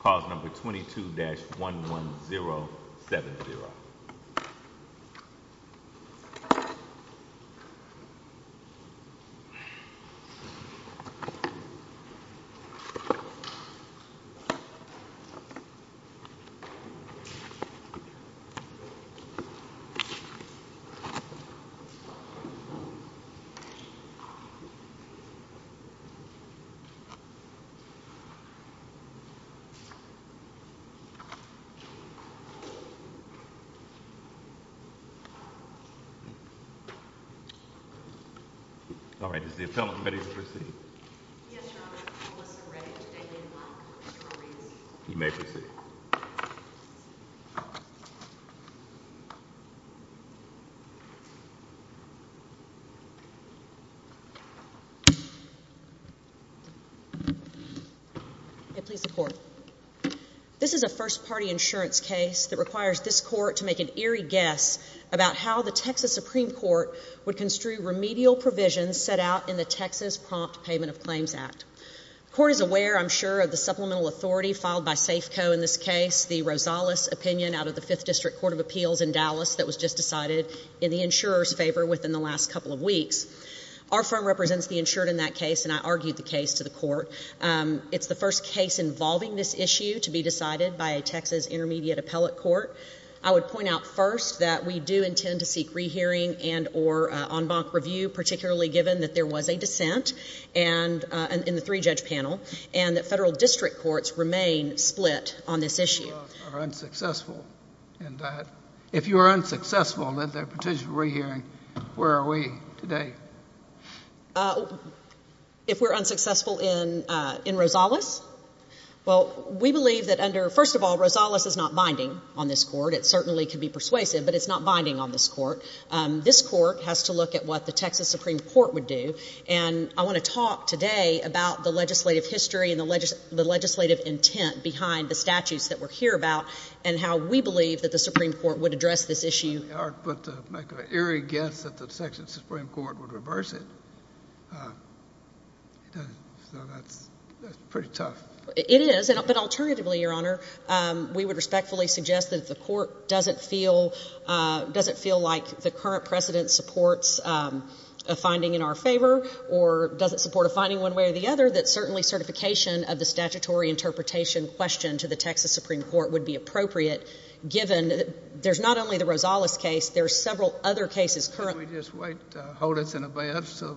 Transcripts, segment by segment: Clause number 22-11070. All right. Is the appellant ready to proceed? Yes, Your Honor. We're ready to begin. Mr. Aries. You may proceed. This is a first-party insurance case that requires this Court to make an eerie guess about how the Texas Supreme Court would construe remedial provisions set out in the Texas Prompt Payment of Claims Act. Court is aware, I'm sure, of the supplemental authority filed by Safeco in this case, the Rosales opinion out of the Fifth District Court of Appeals in Dallas that was just decided in the insurer's favor within the last couple of weeks. Our firm represents the insured in that case, and I argued the case to the Court. It's the first case involving this issue to be decided by a Texas intermediate appellate court. I would point out first that we do intend to seek rehearing and or en banc review, particularly given that there was a dissent in the three-judge panel and that federal district courts remain split on this issue. If you are unsuccessful in that, if you are unsuccessful in the potential rehearing, where are we today? If we're unsuccessful in Rosales? Well, we believe that under, first of all, Rosales is not binding on this Court. It certainly can be persuasive, but it's not binding on this Court. This Court has to look at what the Texas Supreme Court would do, and I want to talk today about the legislative history and the legislative intent behind the statutes that we're here about and how we believe that the Supreme Court would address this issue. But to make an eerie guess that the Texas Supreme Court would reverse it, that's pretty tough. It is, but alternatively, Your Honor, we would respectfully suggest that if the Court doesn't feel like the current precedent supports a finding in our favor or doesn't support a finding one way or the other, that certainly certification of the statutory interpretation question to the Texas Supreme Court would be appropriate, given there's not only the Rosales case. There are several other cases currently... Can we just wait to hold this in advance so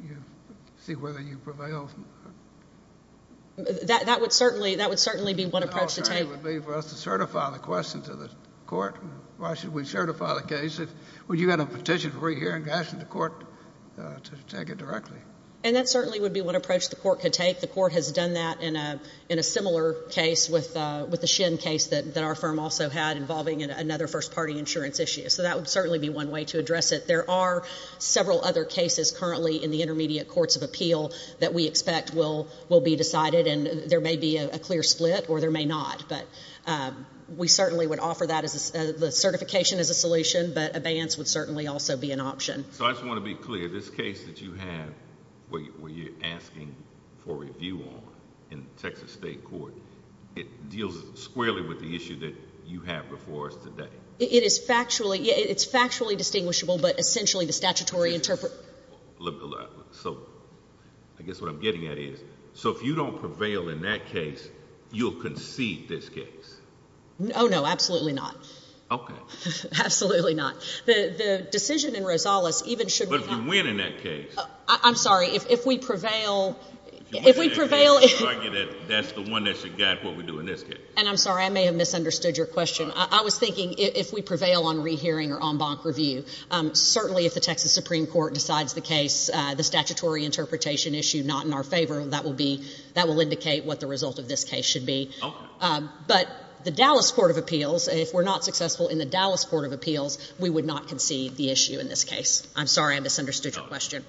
we can see whether you prevail? That would certainly be one approach to take. The alternative would be for us to certify the question to the Court. Why should we certify the case? Would you have a petition before you hear it and ask the Court to take it directly? And that certainly would be one approach the Court could take. The Court has done that in a similar case with the Shin case that our firm also had involving another first-party insurance issue. So that would certainly be one way to address it. There are several other cases currently in the intermediate courts of appeal that we expect will be decided, and there may be a clear split or there may not, but we certainly would offer that as... the certification as a solution, but abeyance would certainly also be an option. So I just want to be clear. This case that you have where you're asking for review on in Texas State Court, it deals squarely with the issue that you have before us today? It is factually... it's factually distinguishable, but essentially the statutory... So I guess what I'm getting at is, so if you don't prevail in that case, you'll concede this case? Oh, no. Absolutely not. Okay. Absolutely not. The decision in Rosales even should not... But if you win in that case... I'm sorry. If we prevail... If you win in that case, you argue that that's the one that should guide what we do in this case. And I'm sorry. I may have misunderstood your question. I was thinking if we prevail on rehearing or en banc review, certainly if the Texas Supreme Court decides the case, the statutory interpretation issue not in our favor, that will be... that will indicate what the result of this case should be. Okay. But the Dallas Court of Appeals, if we're not successful in the Dallas Court of Appeals, we would not concede the issue in this case. I'm sorry. I misunderstood your question.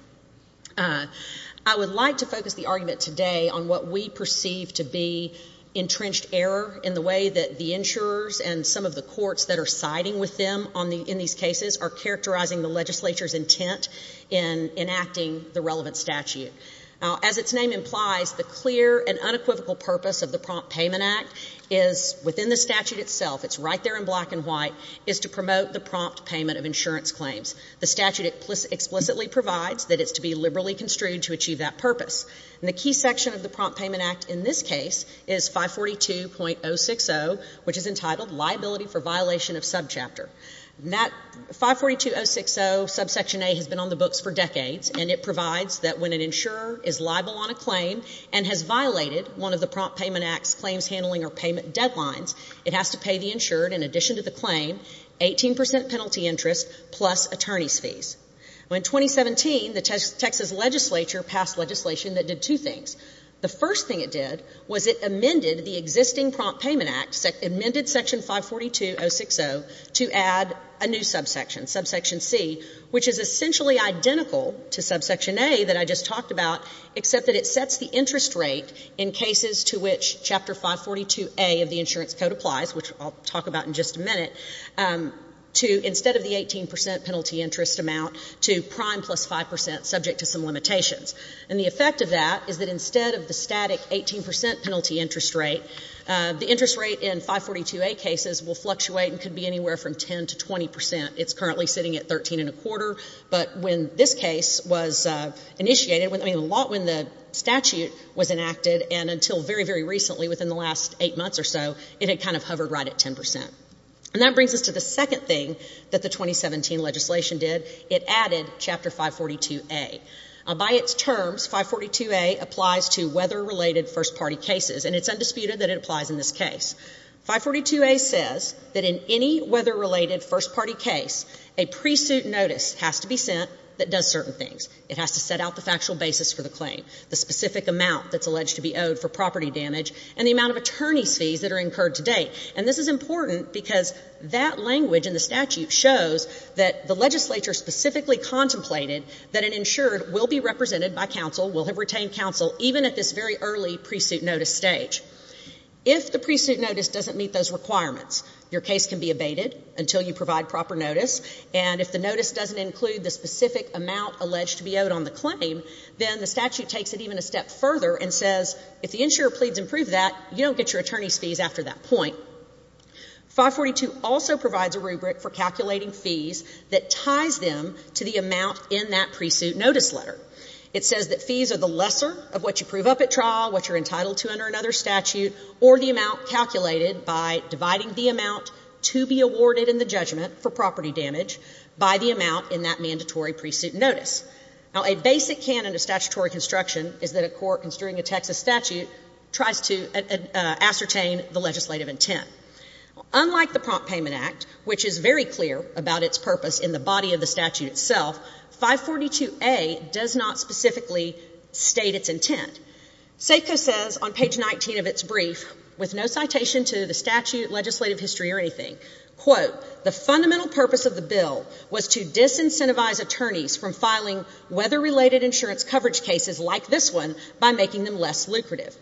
I would like to focus the argument today on what we perceive to be entrenched error in the way that the insurers and some of the courts that are siding with them in these cases are characterizing the legislature's intent in enacting the relevant statute. Now, as its name implies, the clear and unequivocal purpose of the Prompt Payment Act is, within the statute itself, it's right there in black and white, is to promote the prompt payment of insurance claims. The statute explicitly provides that it's to be liberally construed to achieve that purpose. And the key section of the Prompt Payment Act in this case is 542.060, which is entitled Liability for Violation of Subchapter. That 542.060 subsection A has been on the books for decades, and it provides that when an insurer is liable on a claim and has violated one of the Prompt Payment Act's claims handling or payment deadlines, it has to pay the insured, in addition to the claim, 18 percent penalty interest plus attorney's fees. In 2017, the Texas legislature passed legislation that did two things. The first thing it did was it amended the existing Prompt Payment Act, amended section 542.060 to add a new subsection, subsection C, which is essentially identical to subsection A that I just talked about, except that it sets the interest rate in cases to which Chapter 542A of the Insurance Code applies, which I'll talk about in just a minute, to instead of the 18 percent penalty interest amount, to prime plus 5 percent, subject to some limitations. And the effect of that is that instead of the static 18 percent penalty interest rate, the interest rate in 542A cases will fluctuate and could be anywhere from 10 to 20 percent. It's currently sitting at 13 and a quarter. But when this case was initiated, I mean, a lot when the statute was enacted and until very, very recently, within the last eight months or so, it had kind of hovered right at 10 percent. And that brings us to the second thing that the 2017 legislation did. It added Chapter 542A. By its terms, 542A applies to weather-related first-party cases, and it's undisputed that it applies in this case. 542A says that in any weather-related first-party case, a pre-suit notice has to be sent that does certain things. It has to set out the factual basis for the claim, the specific amount that's alleged to be owed for property damage, and the amount of attorney's fees that are incurred to date. And this is important because that language in the statute shows that the legislature specifically contemplated that an insured will be represented by counsel, will have retained counsel, even at this very early pre-suit notice stage. If the pre-suit notice doesn't meet those requirements, your case can be abated until you provide proper notice, and if the notice doesn't include the specific amount alleged to be owed on the claim, then the statute takes it even a step further and says, if the insurer pleads and proves that, you don't get your attorney's fees after that point. 542 also provides a rubric for calculating fees that ties them to the amount in that pre-suit notice letter. It says that fees are the lesser of what you prove up at trial, what you're entitled to under another statute, or the amount calculated by dividing the amount to be awarded in the judgment for property damage by the amount in that mandatory pre-suit notice. Now, a basic canon of statutory construction is that a court, considering a Texas statute, tries to ascertain the legislative intent. Unlike the Prompt Payment Act, which is very clear about its purpose in the body of the statute itself, 542A does not specifically state its intent. SAFCO says on page 19 of its brief, with no citation to the statute, legislative history, or anything, quote, the fundamental purpose of the bill was to disincentivize attorneys from filing weather-related insurance coverage cases like this one by making them less lucrative.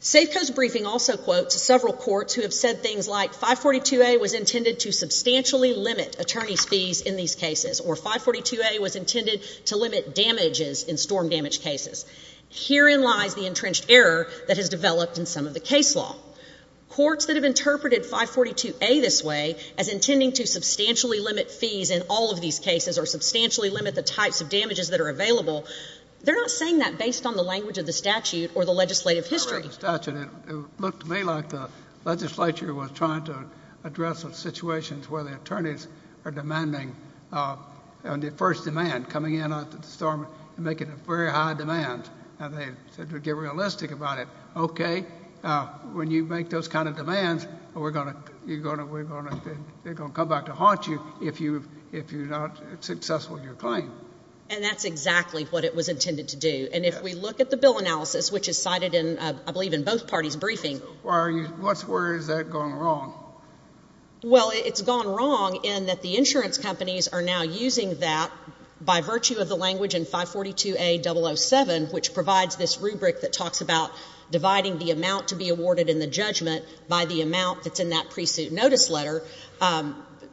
SAFCO's briefing also quotes several courts who have said things like 542A was intended to substantially limit attorney's fees in these cases, or 542A was intended to limit damages in storm damage cases. Herein lies the entrenched error that has developed in some of the case law. Courts that have interpreted 542A this way, as intending to substantially limit fees in all of these cases, or substantially limit the types of damages that are available, they're not saying that based on the language of the statute or the legislative history. I read the statute. It looked to me like the legislature was trying to address a situation where the attorneys are demanding, on the first demand, coming in after the storm and making a very high demand. And they said to get realistic about it, okay, when you make those kind of demands, we're going to, they're going to come back to haunt you if you're not successful in your claim. And that's exactly what it was intended to do. And if we look at the bill analysis, which is cited in, I believe, in both parties' briefing. Why are you, what's, where has that gone wrong? Well, it's gone wrong in that the insurance companies are now using that by virtue of the language in 542A.007, which provides this rubric that talks about dividing the amount to be awarded in the judgment by the amount that's in that pre-suit notice letter.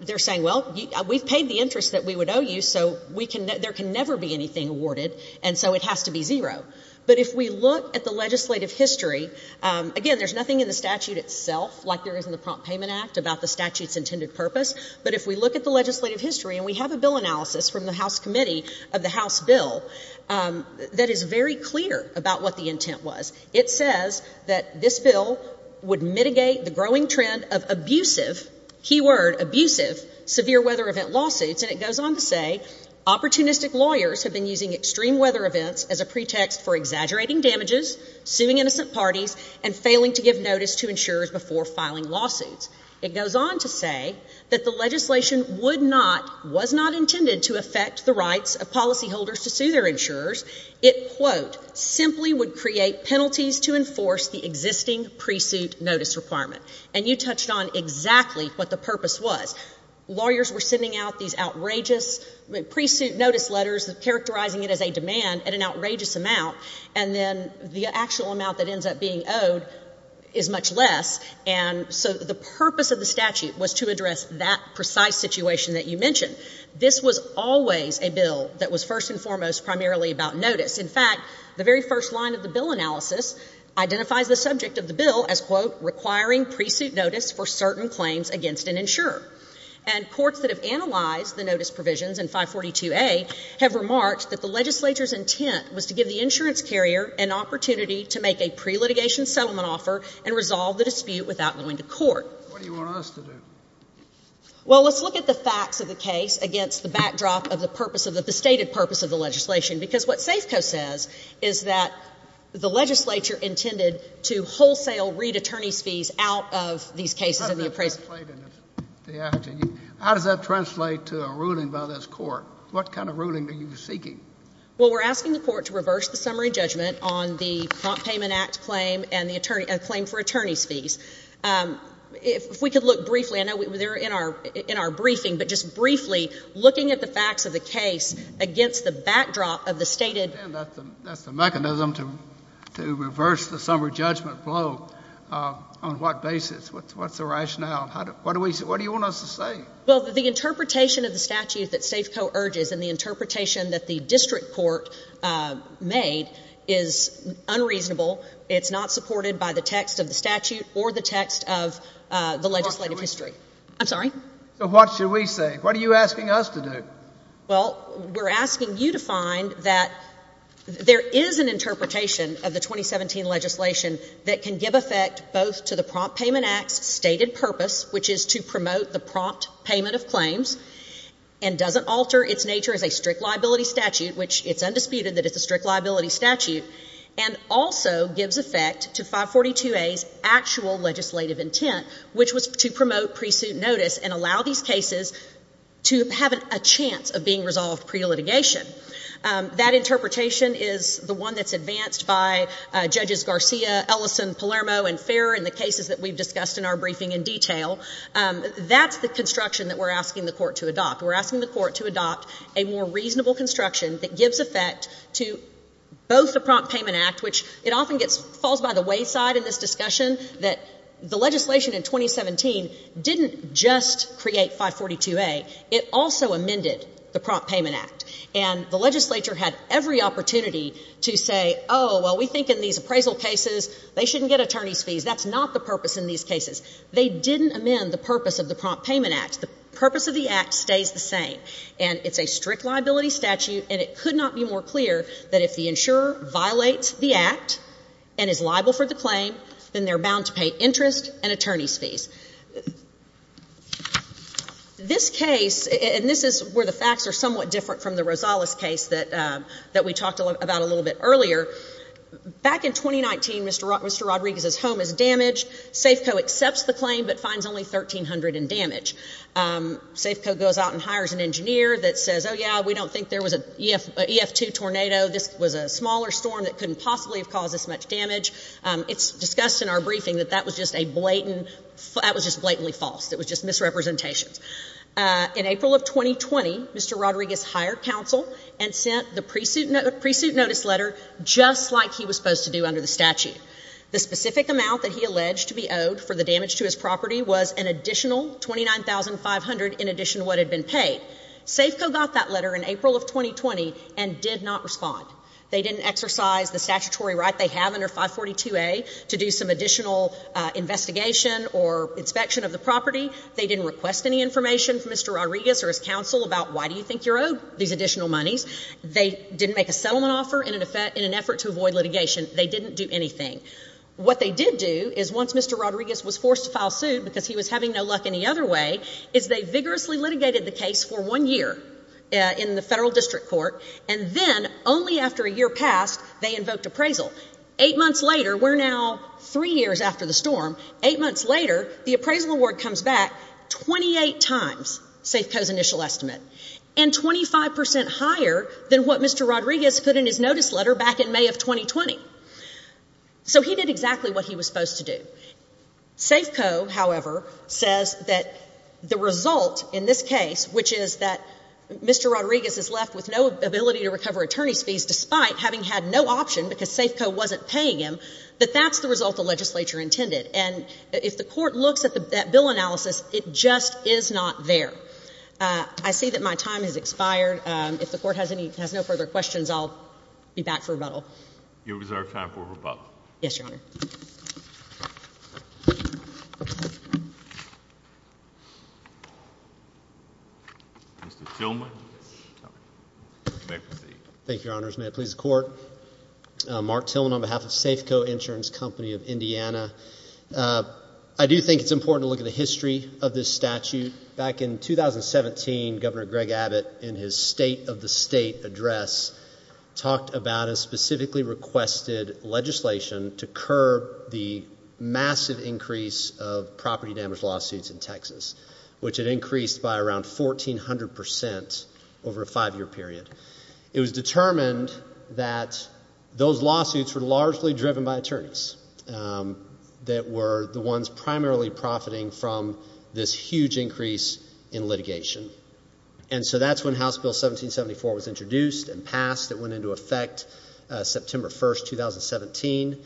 They're saying, well, we've paid the interest that we would owe you, so we can, there can never be anything awarded, and so it has to be zero. But if we look at the legislative history, again, there's nothing in the statute itself, like there is in the Prompt Payment Act, about the statute's intended purpose. But if we look at the legislative history, and we have a bill analysis from the House Committee of the House bill that is very clear about what the intent was. It says that this bill would mitigate the growing trend of abusive, key word, abusive severe weather event lawsuits, and it goes on to say, opportunistic lawyers have been using extreme weather events as a pretext for exaggerating damages, suing innocent parties, and failing to give notice to insurers before filing lawsuits. It goes on to say that the legislation would not, was not intended to affect the rights of policyholders to sue their insurers, it, quote, simply would create penalties to enforce the existing pre-suit notice requirement. And you touched on exactly what the purpose was. Lawyers were sending out these outrageous pre-suit notice letters, characterizing it as a demand at an outrageous amount, and then the actual amount that ends up being owed is much less, and so the purpose of the statute was to address that precise situation that you mentioned. This was always a bill that was first and foremost primarily about notice. In fact, the very first line of the bill analysis identifies the subject of the bill as, quote, requiring pre-suit notice for certain claims against an insurer. And courts that have analyzed the notice provisions in 542A have remarked that the legislature's intent was to give the insurance carrier an opportunity to make a pre-litigation settlement offer and resolve the dispute without going to court. What do you want us to do? Well, let's look at the facts of the case against the backdrop of the purpose of the stated purpose of the legislation, because what SAFCO says is that the legislature intended to wholesale read attorney's fees out of these cases in the appraisal. How does that translate to a ruling by this court? What kind of ruling are you seeking? Well, we're asking the court to reverse the summary judgment on the Prompt Payment Act claim and the claim for attorney's fees. If we could look briefly, I know they're in our briefing, but just briefly looking at the facts of the case against the backdrop of the stated Again, that's the mechanism to reverse the summary judgment blow. On what basis? What's the rationale? What do you want us to say? Well, the interpretation of the statute that SAFCO urges and the interpretation that the district court made is unreasonable. It's not supported by the text of the statute or the text of the legislative history. I'm sorry? So what should we say? What are you asking us to do? Well, we're asking you to find that there is an interpretation of the 2017 legislation that can give effect both to the Prompt Payment Act's stated purpose, which is to promote the prompt payment of claims and doesn't alter its nature as a strict liability statute, which it's undisputed that it's a strict liability statute, and also gives effect to 542A's actual legislative intent, which was to promote pre-suit notice and allow these cases to have a chance of being resolved pre-litigation. That interpretation is the one that's advanced by Judges Garcia, Ellison, Palermo, and Ferrer in the cases that we've discussed in our briefing in detail. That's the construction that we're asking the court to adopt. We're asking the court to adopt a more reasonable construction that gives effect to both the Prompt Payment Act, which it often falls by the wayside in this discussion, that the legislation in 2017 didn't just create 542A. It also amended the Prompt Payment Act, and the legislature had every opportunity to say, oh, well, we think in these appraisal cases they shouldn't get attorney's fees. That's not the purpose in these cases. They didn't amend the purpose of the Prompt Payment Act. The purpose of the act stays the same, and it's a strict liability statute, and it could not be more clear that if the insurer violates the act and is liable for the claim, then they're bound to pay interest and attorney's fees. This case, and this is where the facts are somewhat different from the Rosales case that we talked about a little bit earlier. Back in 2019, Mr. Rodriguez's home is damaged. Safeco accepts the claim, but finds only $1,300 in damage. Safeco goes out and hires an engineer that says, oh, yeah, we don't think there was an EF2 tornado. This was a smaller storm that couldn't possibly have caused this much damage. It's discussed in our briefing that that was just blatantly false, it was just misrepresentations. In April of 2020, Mr. Rodriguez hired counsel and sent the pre-suit notice letter just like he was supposed to do under the statute. The specific amount that he alleged to be owed for the damage to his property was an additional $29,500 in addition to what had been paid. Safeco got that letter in April of 2020 and did not respond. They didn't exercise the statutory right they have under 542A to do some additional investigation or inspection of the property. They didn't request any information from Mr. Rodriguez or his counsel about why do you think you're owed these additional monies. They didn't make a settlement offer in an effort to avoid litigation. They didn't do anything. What they did do is once Mr. Rodriguez was forced to file suit because he was having no luck any other way, is they vigorously litigated the case for one year in the federal district court and then only after a year passed, they invoked appraisal. Eight months later, we're now three years after the storm, eight months later, the appraisal award comes back 28 times Safeco's initial estimate and 25% higher than what Mr. Rodriguez put in his notice letter back in May of 2020. So he did exactly what he was supposed to do. Safeco, however, says that the result in this case, which is that Mr. Rodriguez is left with no ability to recover attorney's fees despite having had no option because Safeco wasn't paying him, that that's the result the legislature intended. And if the court looks at that bill analysis, it just is not there. I see that my time has expired. If the court has any, has no further questions, I'll be back for rebuttal. You reserve time for rebuttal. Yes, Your Honor. Mr. Tillman. You may proceed. Thank you, Your Honors. May it please the court. Mark Tillman on behalf of Safeco Insurance Company of Indiana. I do think it's important to look at the history of this statute. Back in 2017, Governor Greg Abbott, in his state of the state address, talked about a of property damage lawsuits in Texas, which had increased by around 1,400% over a five-year period. It was determined that those lawsuits were largely driven by attorneys that were the ones primarily profiting from this huge increase in litigation. And so that's when House Bill 1774 was introduced and passed. It went into effect September 1st, 2017,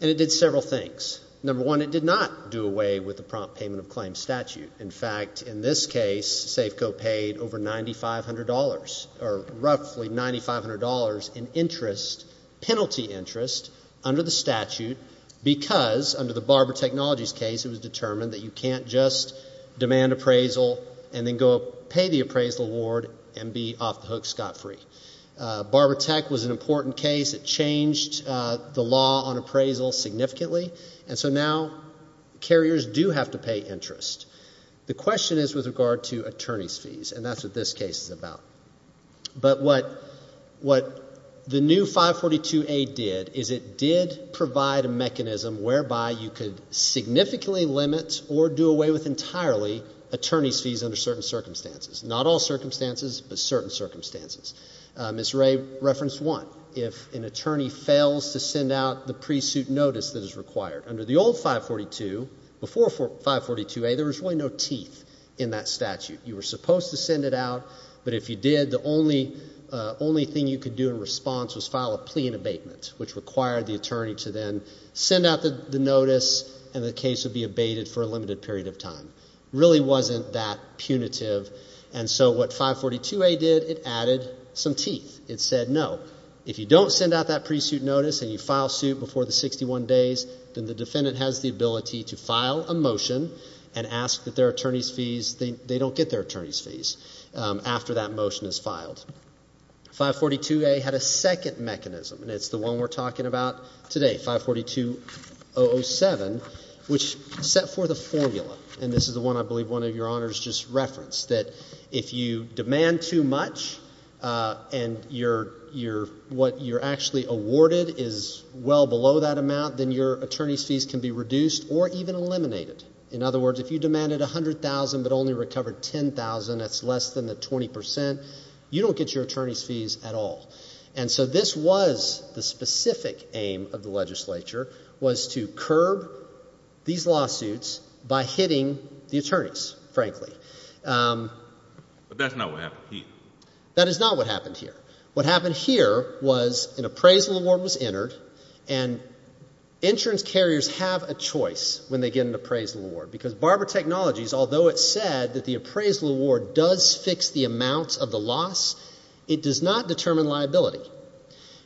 and it did several things. Number one, it did not do away with the prompt payment of claim statute. In fact, in this case, Safeco paid over $9,500, or roughly $9,500 in interest, penalty interest, under the statute because, under the Barber Technologies case, it was determined that you can't just demand appraisal and then go pay the appraisal award and be off the hook scot-free. Barber Tech was an important case. It changed the law on appraisal significantly, and so now carriers do have to pay interest. The question is with regard to attorney's fees, and that's what this case is about. But what the new 542A did is it did provide a mechanism whereby you could significantly limit or do away with entirely attorney's fees under certain circumstances. Not all circumstances, but certain circumstances. Ms. Ray referenced one, if an attorney fails to send out the pre-suit notice that is required. Under the old 542, before 542A, there was really no teeth in that statute. You were supposed to send it out, but if you did, the only thing you could do in response was file a plea and abatement, which required the attorney to then send out the notice and the case would be abated for a limited period of time. Really wasn't that punitive, and so what 542A did, it added some teeth. It said no. If you don't send out that pre-suit notice and you file suit before the 61 days, then the defendant has the ability to file a motion and ask that their attorney's fees, they don't get their attorney's fees after that motion is filed. 542A had a second mechanism, and it's the one we're talking about today, 542-007, which set forth a formula, and this is the one I believe one of your honors just referenced, that if you demand too much and what you're actually awarded is well below that amount, then your attorney's fees can be reduced or even eliminated. In other words, if you demanded $100,000 but only recovered $10,000, that's less than the 20%, you don't get your attorney's fees at all, and so this was the specific aim of the legislature, was to curb these lawsuits by hitting the attorneys, frankly. But that's not what happened here. That is not what happened here. What happened here was an appraisal award was entered, and insurance carriers have a choice when they get an appraisal award, because Barber Technologies, although it said that the appraisal award does fix the amount of the loss, it does not determine liability,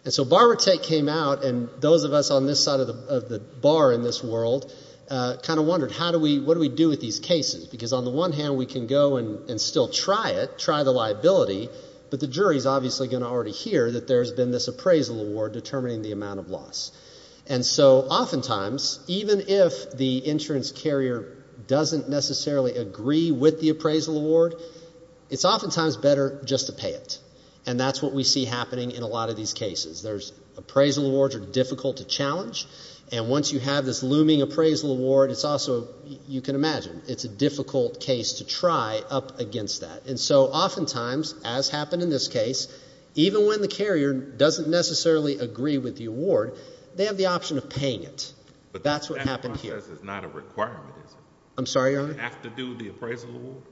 and so BarberTech came out, and those of us on this side of the bar in this world kind of wondered, what do we do with these cases? Because on the one hand, we can go and still try it, try the liability, but the jury's obviously going to already hear that there's been this appraisal award determining the amount of loss, and so oftentimes, even if the insurance carrier doesn't necessarily agree with the appraisal award, it's oftentimes better just to pay it, and that's what we see happening in a lot of these cases. There's appraisal awards are difficult to challenge, and once you have this looming appraisal award, it's also, you can imagine, it's a difficult case to try up against that. And so oftentimes, as happened in this case, even when the carrier doesn't necessarily agree with the award, they have the option of paying it. But that's what happened here. But that process is not a requirement, is it? I'm sorry, Your Honor? Do you have to do the appraisal award?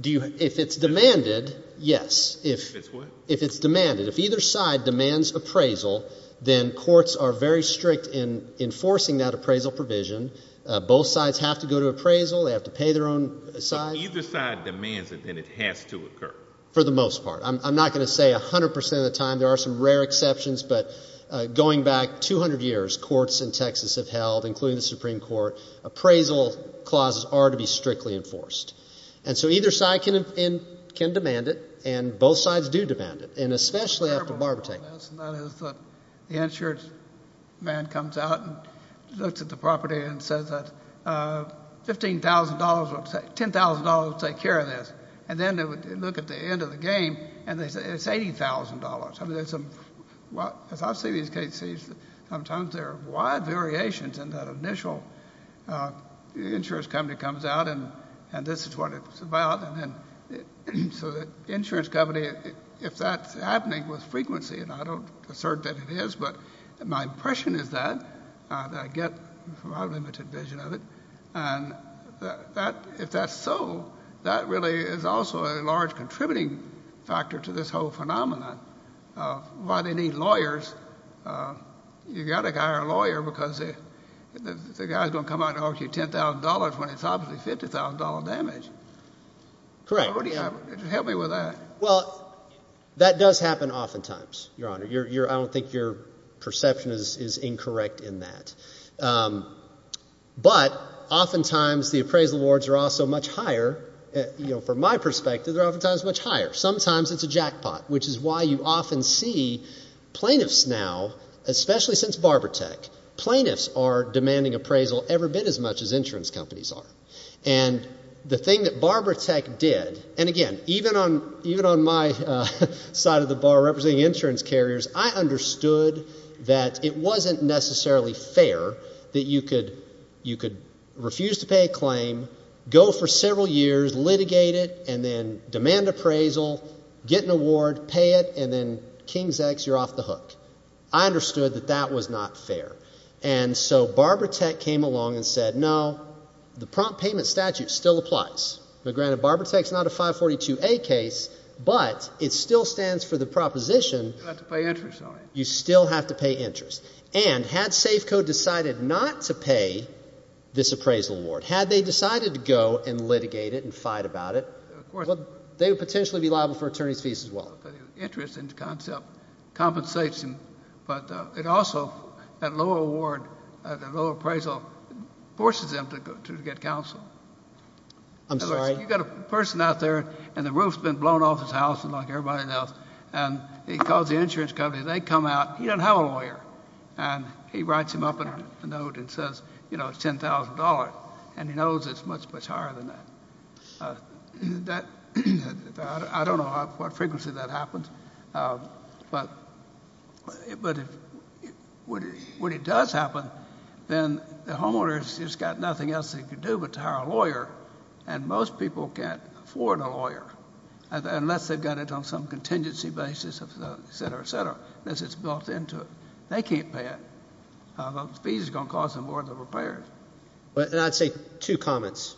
Do you, if it's demanded, yes. If it's what? If it's demanded. If either side demands appraisal, then courts are very strict in enforcing that appraisal provision. Both sides have to go to appraisal, they have to pay their own size. If either side demands it, then it has to occur. For the most part. I'm not going to say 100% of the time. There are some rare exceptions, but going back 200 years, courts in Texas have held, including the Supreme Court, appraisal clauses are to be strictly enforced. And so either side can demand it, and both sides do demand it. And especially after barbertaking. That's not it. The insurance man comes out and looks at the property and says that $10,000 will take care of this. And then they would look at the end of the game, and they say it's $80,000. As I see these cases, sometimes there are wide variations in that initial insurance company comes out, and this is what it's about. So the insurance company, if that's happening with frequency, and I don't assert that it is, but my impression is that, I get from my limited vision of it, and if that's so, that really is also a large contributing factor to this whole phenomenon. Why they need lawyers, you've got to hire a lawyer, because the guy's going to come out and ask you $10,000 when it's obviously $50,000 damage. Correct. Help me with that. Well, that does happen oftentimes, Your Honor. I don't think your perception is incorrect in that. But oftentimes the appraisal awards are also much higher. From my perspective, they're oftentimes much higher. Sometimes it's a jackpot, which is why you often see plaintiffs now, especially since Barbaratech, plaintiffs are demanding appraisal every bit as much as insurance companies are. And the thing that Barbaratech did, and again, even on my side of the bar representing insurance carriers, I understood that it wasn't necessarily fair that you could refuse to pay a claim, go for several years, litigate it, and then demand appraisal, get an award, pay it, and then king's X, you're off the hook. I understood that that was not fair. And so Barbaratech came along and said, no, the prompt payment statute still applies. Now, granted, Barbaratech's not a 542A case, but it still stands for the proposition... You have to pay interest on it. You still have to pay interest. And had Safeco decided not to pay this appraisal award, had they decided to go and litigate it and fight about it, they would potentially be liable for attorney's fees as well. But the interest in the concept compensates them. But it also, that lower award, that lower appraisal, forces them to get counsel. I'm sorry? You've got a person out there, and the roof's been blown off his house like everybody else, and he calls the insurance company. They come out. He doesn't have a lawyer. And he writes him up in a note and says, you know, it's $10,000. And he knows it's much, much higher than that. I don't know what frequency that happens. But when it does happen, then the homeowner's just got nothing else they can do but to hire a lawyer. And most people can't afford a lawyer, unless they've got it on some contingency basis, et cetera, et cetera, unless it's built into it. They can't pay it. Those fees are going to cost them more than repairs. And I'd say two comments,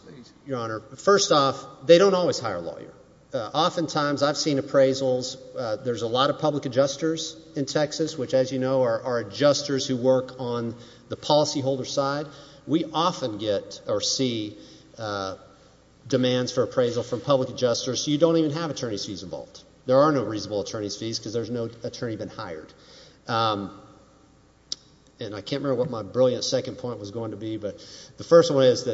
Your Honor. First off, they don't always hire a lawyer. Oftentimes, I've seen appraisals. There's a lot of public adjusters in Texas, which, as you know, are adjusters who work on the policyholder side. We often get or see demands for appraisal from public adjusters. You don't even have attorney's fees involved. There are no reasonable attorney's fees, because there's no attorney been hired. And I can't remember what my brilliant second point was going to be, but the first one is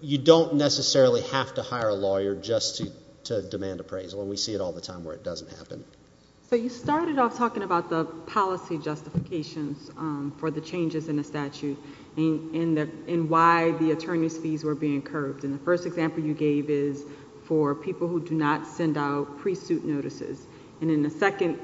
you don't necessarily have to hire a lawyer just to demand appraisal, and we see it all the time where it doesn't happen. So you started off talking about the policy justifications for the changes in the statute and why the attorney's fees were being curbed, and the first example you gave is for people who do not send out pre-suit notices, and then the second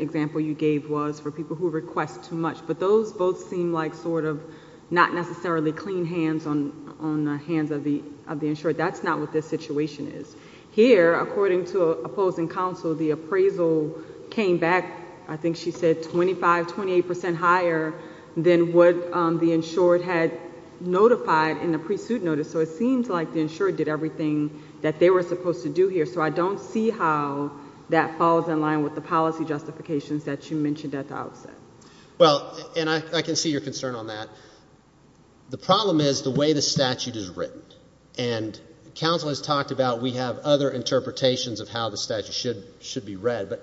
example you gave was for people who request too much. But those both seem like sort of not necessarily clean hands on the hands of the insured. That's not what this situation is. Here, according to opposing counsel, the appraisal came back, I think she said, 25, 28 percent higher than what the insured had notified in the pre-suit notice. So it seems like the insured did everything that they were supposed to do here. So I don't see how that falls in line with the policy justifications that you mentioned at the outset. Well, and I can see your concern on that. The problem is the way the statute is written, and counsel has talked about we have other interpretations of how the statute should be read, but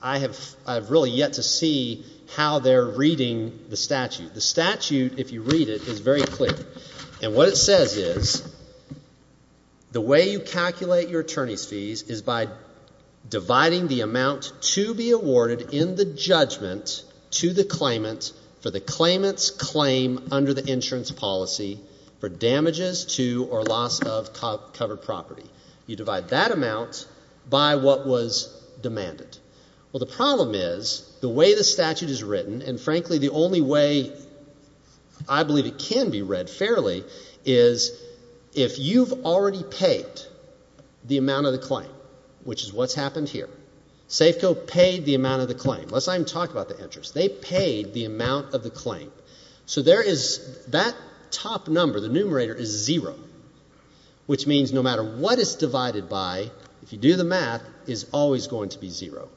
I have really yet to see how they're reading the statute. The statute, if you read it, is very clear, and what it says is the way you calculate your attorney's fees is by dividing the amount to be awarded in the judgment to the claimant for the claimant's claim under the insurance policy for damages to or loss of covered property. You divide that amount by what was demanded. Well, the problem is the way the statute is written, and frankly, the only way I believe it can be read fairly is if you've already paid the amount of the claim, which is what's happened here. Safeco paid the amount of the claim. Let's not even talk about the interest. They paid the amount of the claim. So there is that top number, the numerator, is zero, which means no matter what it's divided by, if you do the math, it's always going to be zero.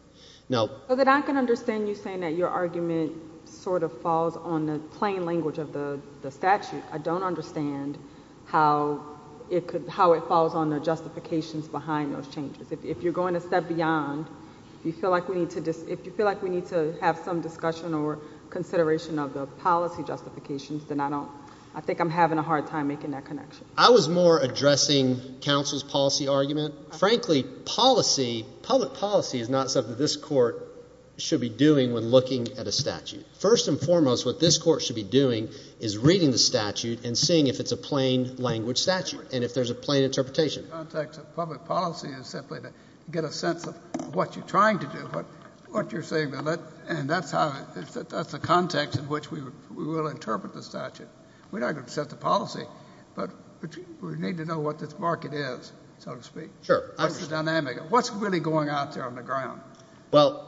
So then I can understand you saying that your argument sort of falls on the plain language of the statute. I don't understand how it falls on the justifications behind those changes. If you're going a step beyond, if you feel like we need to have some discussion or consideration of the policy justifications, then I think I'm having a hard time making that connection. I was more addressing counsel's policy argument. Frankly, policy, public policy is not something this court should be doing when looking at a statute. First and foremost, what this court should be doing is reading the statute and seeing if it's a plain language statute and if there's a plain interpretation. The context of public policy is simply to get a sense of what you're trying to do, what you're saying, and that's the context in which we will interpret the statute. We're not going to set the policy, but we need to know what this market is, so to speak. Sure. What's the dynamic? What's really going out there on the ground? Well,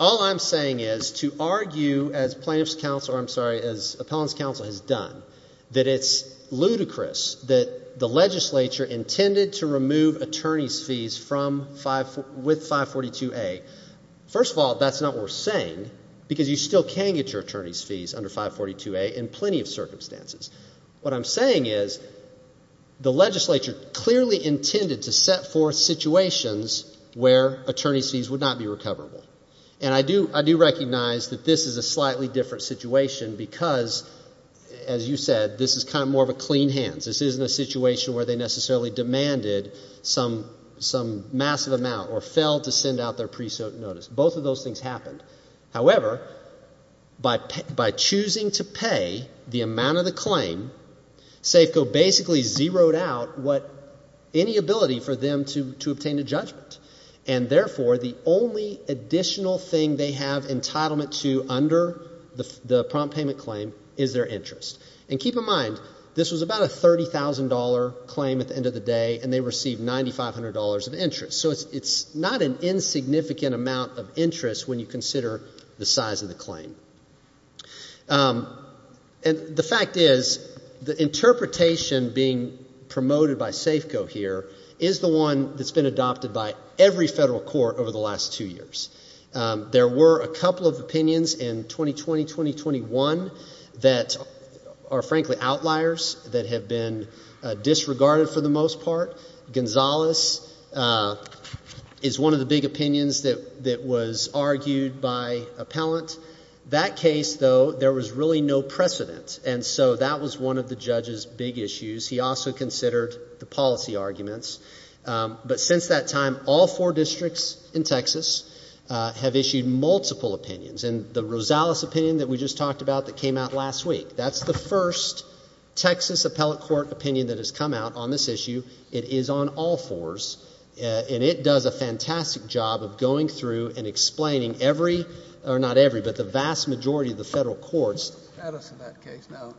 all I'm saying is to argue as plaintiff's counsel, or I'm sorry, as appellant's counsel has done, that it's ludicrous that the legislature intended to remove attorney's fees with 542A. First of all, that's not worth saying because you still can get your attorney's fees under 542A in plenty of circumstances. What I'm saying is the legislature clearly intended to set forth situations where attorney's fees would not be recoverable. And I do recognize that this is a slightly different situation because, as you said, this is kind of more of a clean hand. This isn't a situation where they necessarily demanded some massive amount or failed to send out their pre-suit notice. Both of those things happened. However, by choosing to pay the amount of the claim, SAFCO basically zeroed out any ability for them to obtain a judgment. And therefore, the only additional thing they have entitlement to under the prompt payment claim is their interest. And keep in mind, this was about a $30,000 claim at the end of the day, and they received $9,500 of interest. So it's not an insignificant amount of interest when you consider the size of the claim. And the fact is the interpretation being promoted by SAFCO here is the one that's been adopted by every federal court over the last two years. There were a couple of opinions in 2020-2021 that are frankly outliers that have been disregarded for the most part. Gonzales is one of the big opinions that was argued by appellant. That case, though, there was really no precedent. And so that was one of the judge's big issues. He also considered the policy arguments. But since that time, all four districts in Texas have issued multiple opinions. And the Rosales opinion that we just talked about that came out last week, that's the first Texas appellate court opinion that has come out on this issue. It is on all fours. And it does a fantastic job of going through and explaining every, or not every, but the vast majority of the federal courts' status in that case. Now,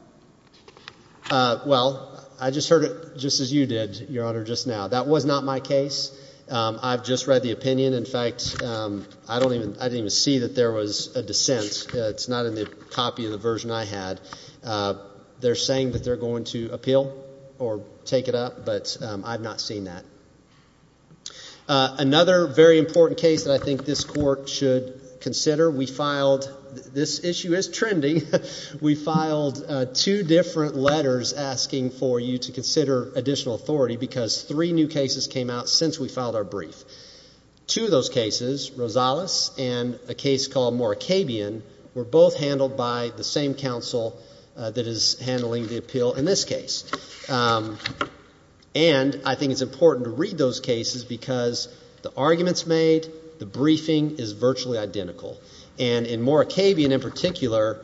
well, I just heard it just as you did, Your Honor, just now. That was not my case. I've just read the opinion. In fact, I don't even, I didn't even see that there was a dissent. It's not in the copy of the version I had. They're saying that they're going to appeal or take it up, but I've not seen that. Another very important case that I think this court should consider, we filed, this issue is trendy, we filed two different letters asking for you to consider additional authority because three new cases came out since we filed our brief. Two of those cases, Rosales and a case called Morakabian, were both handled by the same counsel that is handling the appeal in this case. And I think it's important to read those cases because the arguments made, the briefing is virtually identical. And in Morakabian in particular,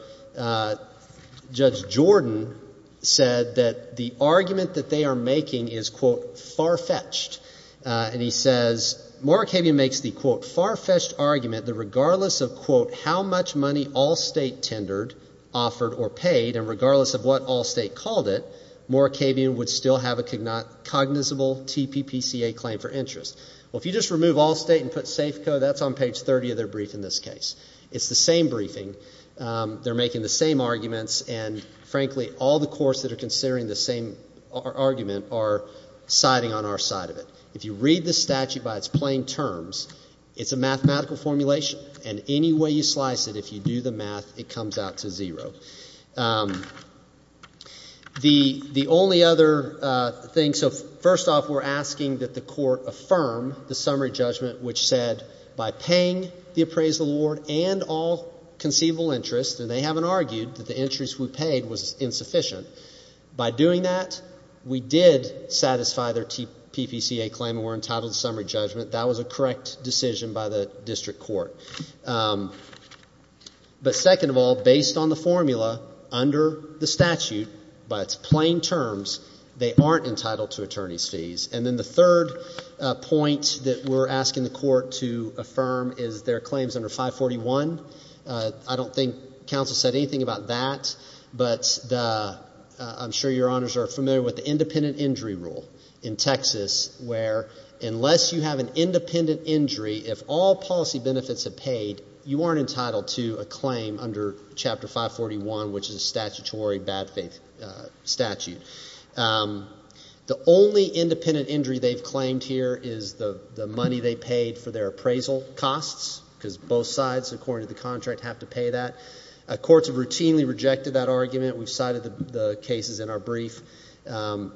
Judge Jordan said that the argument that they are making is, quote, far-fetched, and he says, Morakabian makes the, quote, far-fetched argument that regardless of, quote, how much money Allstate tendered, offered, or paid, and regardless of what Allstate called it, Morakabian would still have a cognizable TPPCA claim for interest. Well, if you just remove Allstate and put Safeco, that's on page 30 of their brief in this case. It's the same briefing. They're making the same arguments, and frankly, all the courts that are considering the same argument are siding on our side of it. If you read the statute by its plain terms, it's a mathematical formulation, and any way you slice it, if you do the math, it comes out to zero. The only other thing, so first off, we're asking that the court affirm the summary judgment which said, by paying the appraisal award and all conceivable interest, and they haven't We did satisfy their TPPCA claim and were entitled to summary judgment. That was a correct decision by the district court. But second of all, based on the formula under the statute, by its plain terms, they aren't entitled to attorney's fees, and then the third point that we're asking the court to affirm is their claims under 541. I don't think counsel said anything about that, but I'm sure your honors are familiar with the independent injury rule in Texas, where unless you have an independent injury, if all policy benefits are paid, you aren't entitled to a claim under Chapter 541, which is a statutory bad faith statute. The only independent injury they've claimed here is the money they paid for their appraisal costs, because both sides, according to the contract, have to pay that. Courts have routinely rejected that argument. We've cited the cases in our brief. Under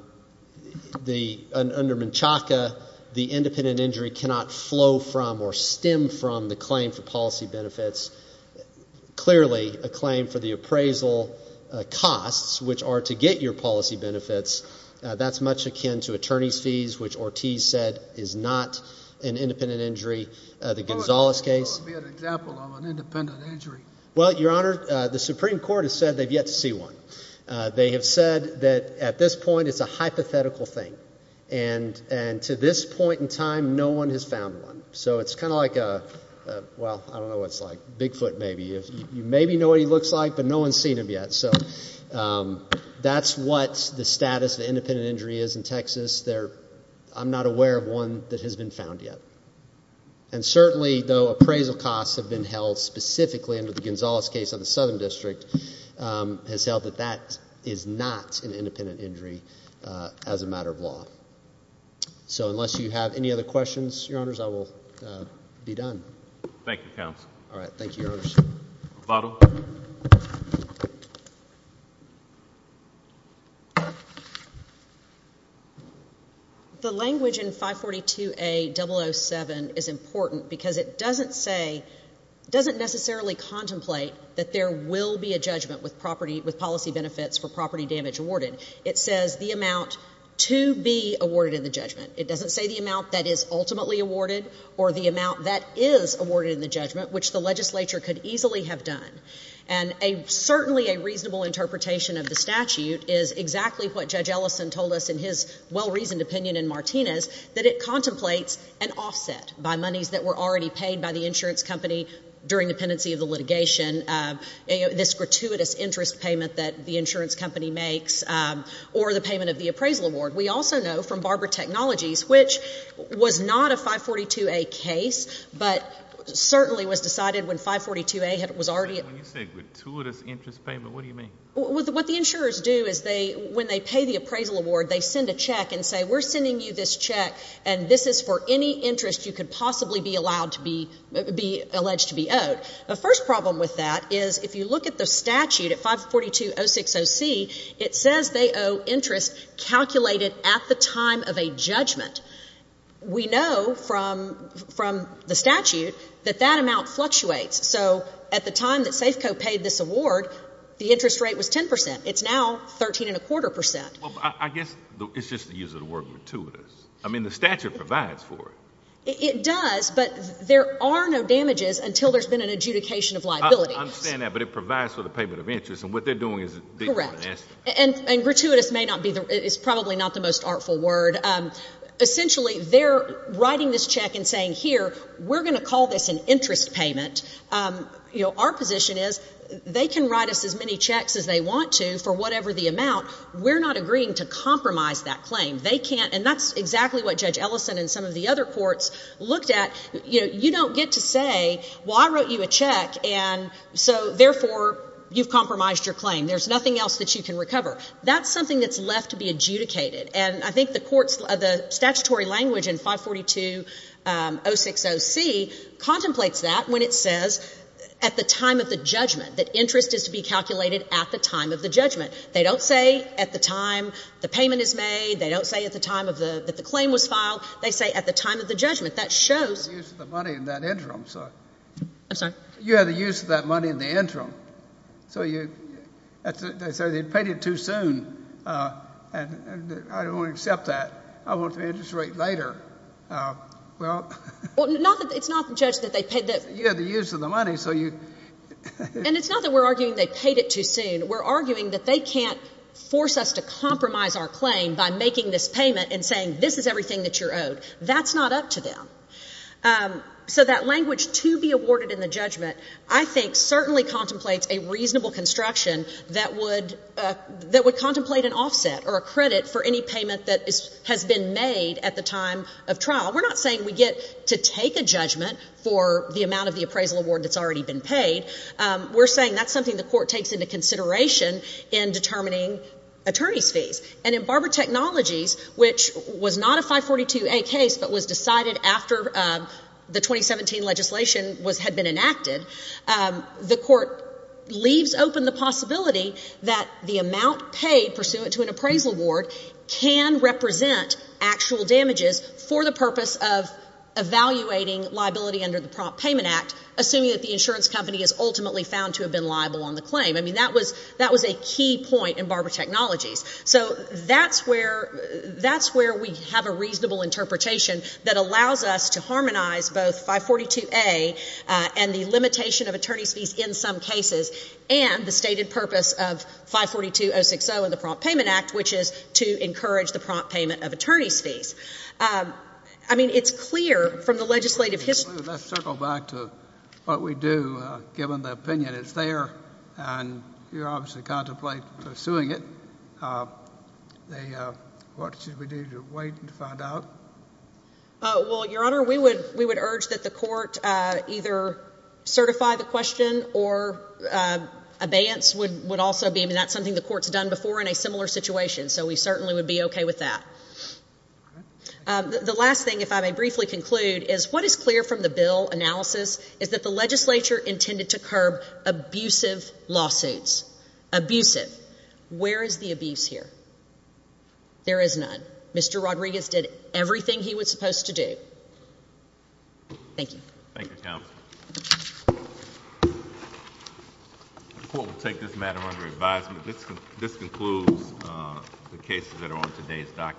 Menchaca, the independent injury cannot flow from or stem from the claim for policy benefits. Clearly, a claim for the appraisal costs, which are to get your policy benefits, that's much akin to attorney's fees, which Ortiz said is not an independent injury. The Gonzales case? Give me an example of an independent injury. Well, your honor, the Supreme Court has said they've yet to see one. They have said that at this point, it's a hypothetical thing, and to this point in time, no one has found one. So it's kind of like a, well, I don't know what it's like, Bigfoot maybe. You maybe know what he looks like, but no one's seen him yet. So that's what the status of independent injury is in Texas. I'm not aware of one that has been found yet. And certainly, though appraisal costs have been held specifically under the Gonzales case on the Southern District, has held that that is not an independent injury as a matter of law. So unless you have any other questions, your honors, I will be done. Thank you, counsel. All right. Thank you, your honors. Votto? The language in 542A.007 is important because it doesn't say, doesn't necessarily contemplate that there will be a judgment with property, with policy benefits for property damage awarded. It says the amount to be awarded in the judgment. It doesn't say the amount that is ultimately awarded or the amount that is awarded in the And certainly a reasonable interpretation of the statute is exactly what Judge Ellison told us in his well-reasoned opinion in Martinez, that it contemplates an offset by monies that were already paid by the insurance company during the pendency of the litigation, this gratuitous interest payment that the insurance company makes, or the payment of the appraisal award. We also know from Barber Technologies, which was not a 542A.00 case, but certainly was decided when 542A.00 was already... When you say gratuitous interest payment, what do you mean? What the insurers do is they, when they pay the appraisal award, they send a check and say, we're sending you this check and this is for any interest you could possibly be allowed to be, be alleged to be owed. The first problem with that is if you look at the statute at 542.060C, it says they owe interest calculated at the time of a judgment. We know from the statute that that amount fluctuates. So at the time that Safeco paid this award, the interest rate was 10%. It's now 13.25%. Well, I guess it's just the use of the word gratuitous. I mean, the statute provides for it. It does, but there are no damages until there's been an adjudication of liability. I understand that, but it provides for the payment of interest, and what they're doing is... Correct. And gratuitous may not be the... It's probably not the most artful word. Essentially, they're writing this check and saying, here, we're going to call this an interest payment. Our position is they can write us as many checks as they want to for whatever the amount. We're not agreeing to compromise that claim. They can't... And that's exactly what Judge Ellison and some of the other courts looked at. You don't get to say, well, I wrote you a check, and so therefore, you've compromised your claim. There's nothing else that you can recover. That's something that's left to be adjudicated, and I think the statutory language in 542-060C contemplates that when it says, at the time of the judgment, that interest is to be calculated at the time of the judgment. They don't say at the time the payment is made. They don't say at the time that the claim was filed. They say at the time of the judgment. That shows... You had the use of the money in that interim, so... I'm sorry? You had the use of that money in the interim. So you... They say they paid it too soon, and I don't want to accept that. I want the interest rate later. Well... Well, not that... It's not, Judge, that they paid the... You had the use of the money, so you... And it's not that we're arguing they paid it too soon. We're arguing that they can't force us to compromise our claim by making this payment and saying, this is everything that you're owed. That's not up to them. So that language, to be awarded in the judgment, I think certainly contemplates a reasonable construction that would... That would contemplate an offset or a credit for any payment that has been made at the time of trial. We're not saying we get to take a judgment for the amount of the appraisal award that's already been paid. We're saying that's something the court takes into consideration in determining attorney's fees. And in Barber Technologies, which was not a 542A case, but was decided after the 2017 legislation was... Had been enacted, the court leaves open the possibility that the amount paid pursuant to an appraisal award can represent actual damages for the purpose of evaluating liability under the Prompt Payment Act, assuming that the insurance company is ultimately found to have been liable on the claim. I mean, that was... That was a key point in Barber Technologies. So that's where... That's where we have a reasonable interpretation that allows us to harmonize both 542A and the limitation of attorney's fees in some cases, and the stated purpose of 542-060 in the Prompt Payment Act, which is to encourage the prompt payment of attorney's fees. I mean, it's clear from the legislative history... Let's circle back to what we do, given the opinion is there, and you're obviously contemplating pursuing it. They... What should we do to wait and find out? Well, Your Honor, we would urge that the court either certify the question or abeyance would also be... I mean, that's something the court's done before in a similar situation, so we certainly would be okay with that. The last thing, if I may briefly conclude, is what is clear from the bill analysis is that the legislature intended to curb abusive lawsuits, abusive. Where is the abuse here? There is none. Mr. Rodriguez did everything he was supposed to do. Thank you. Thank you, counsel. The court will take this matter under advisement. This concludes the cases that are on today's docket.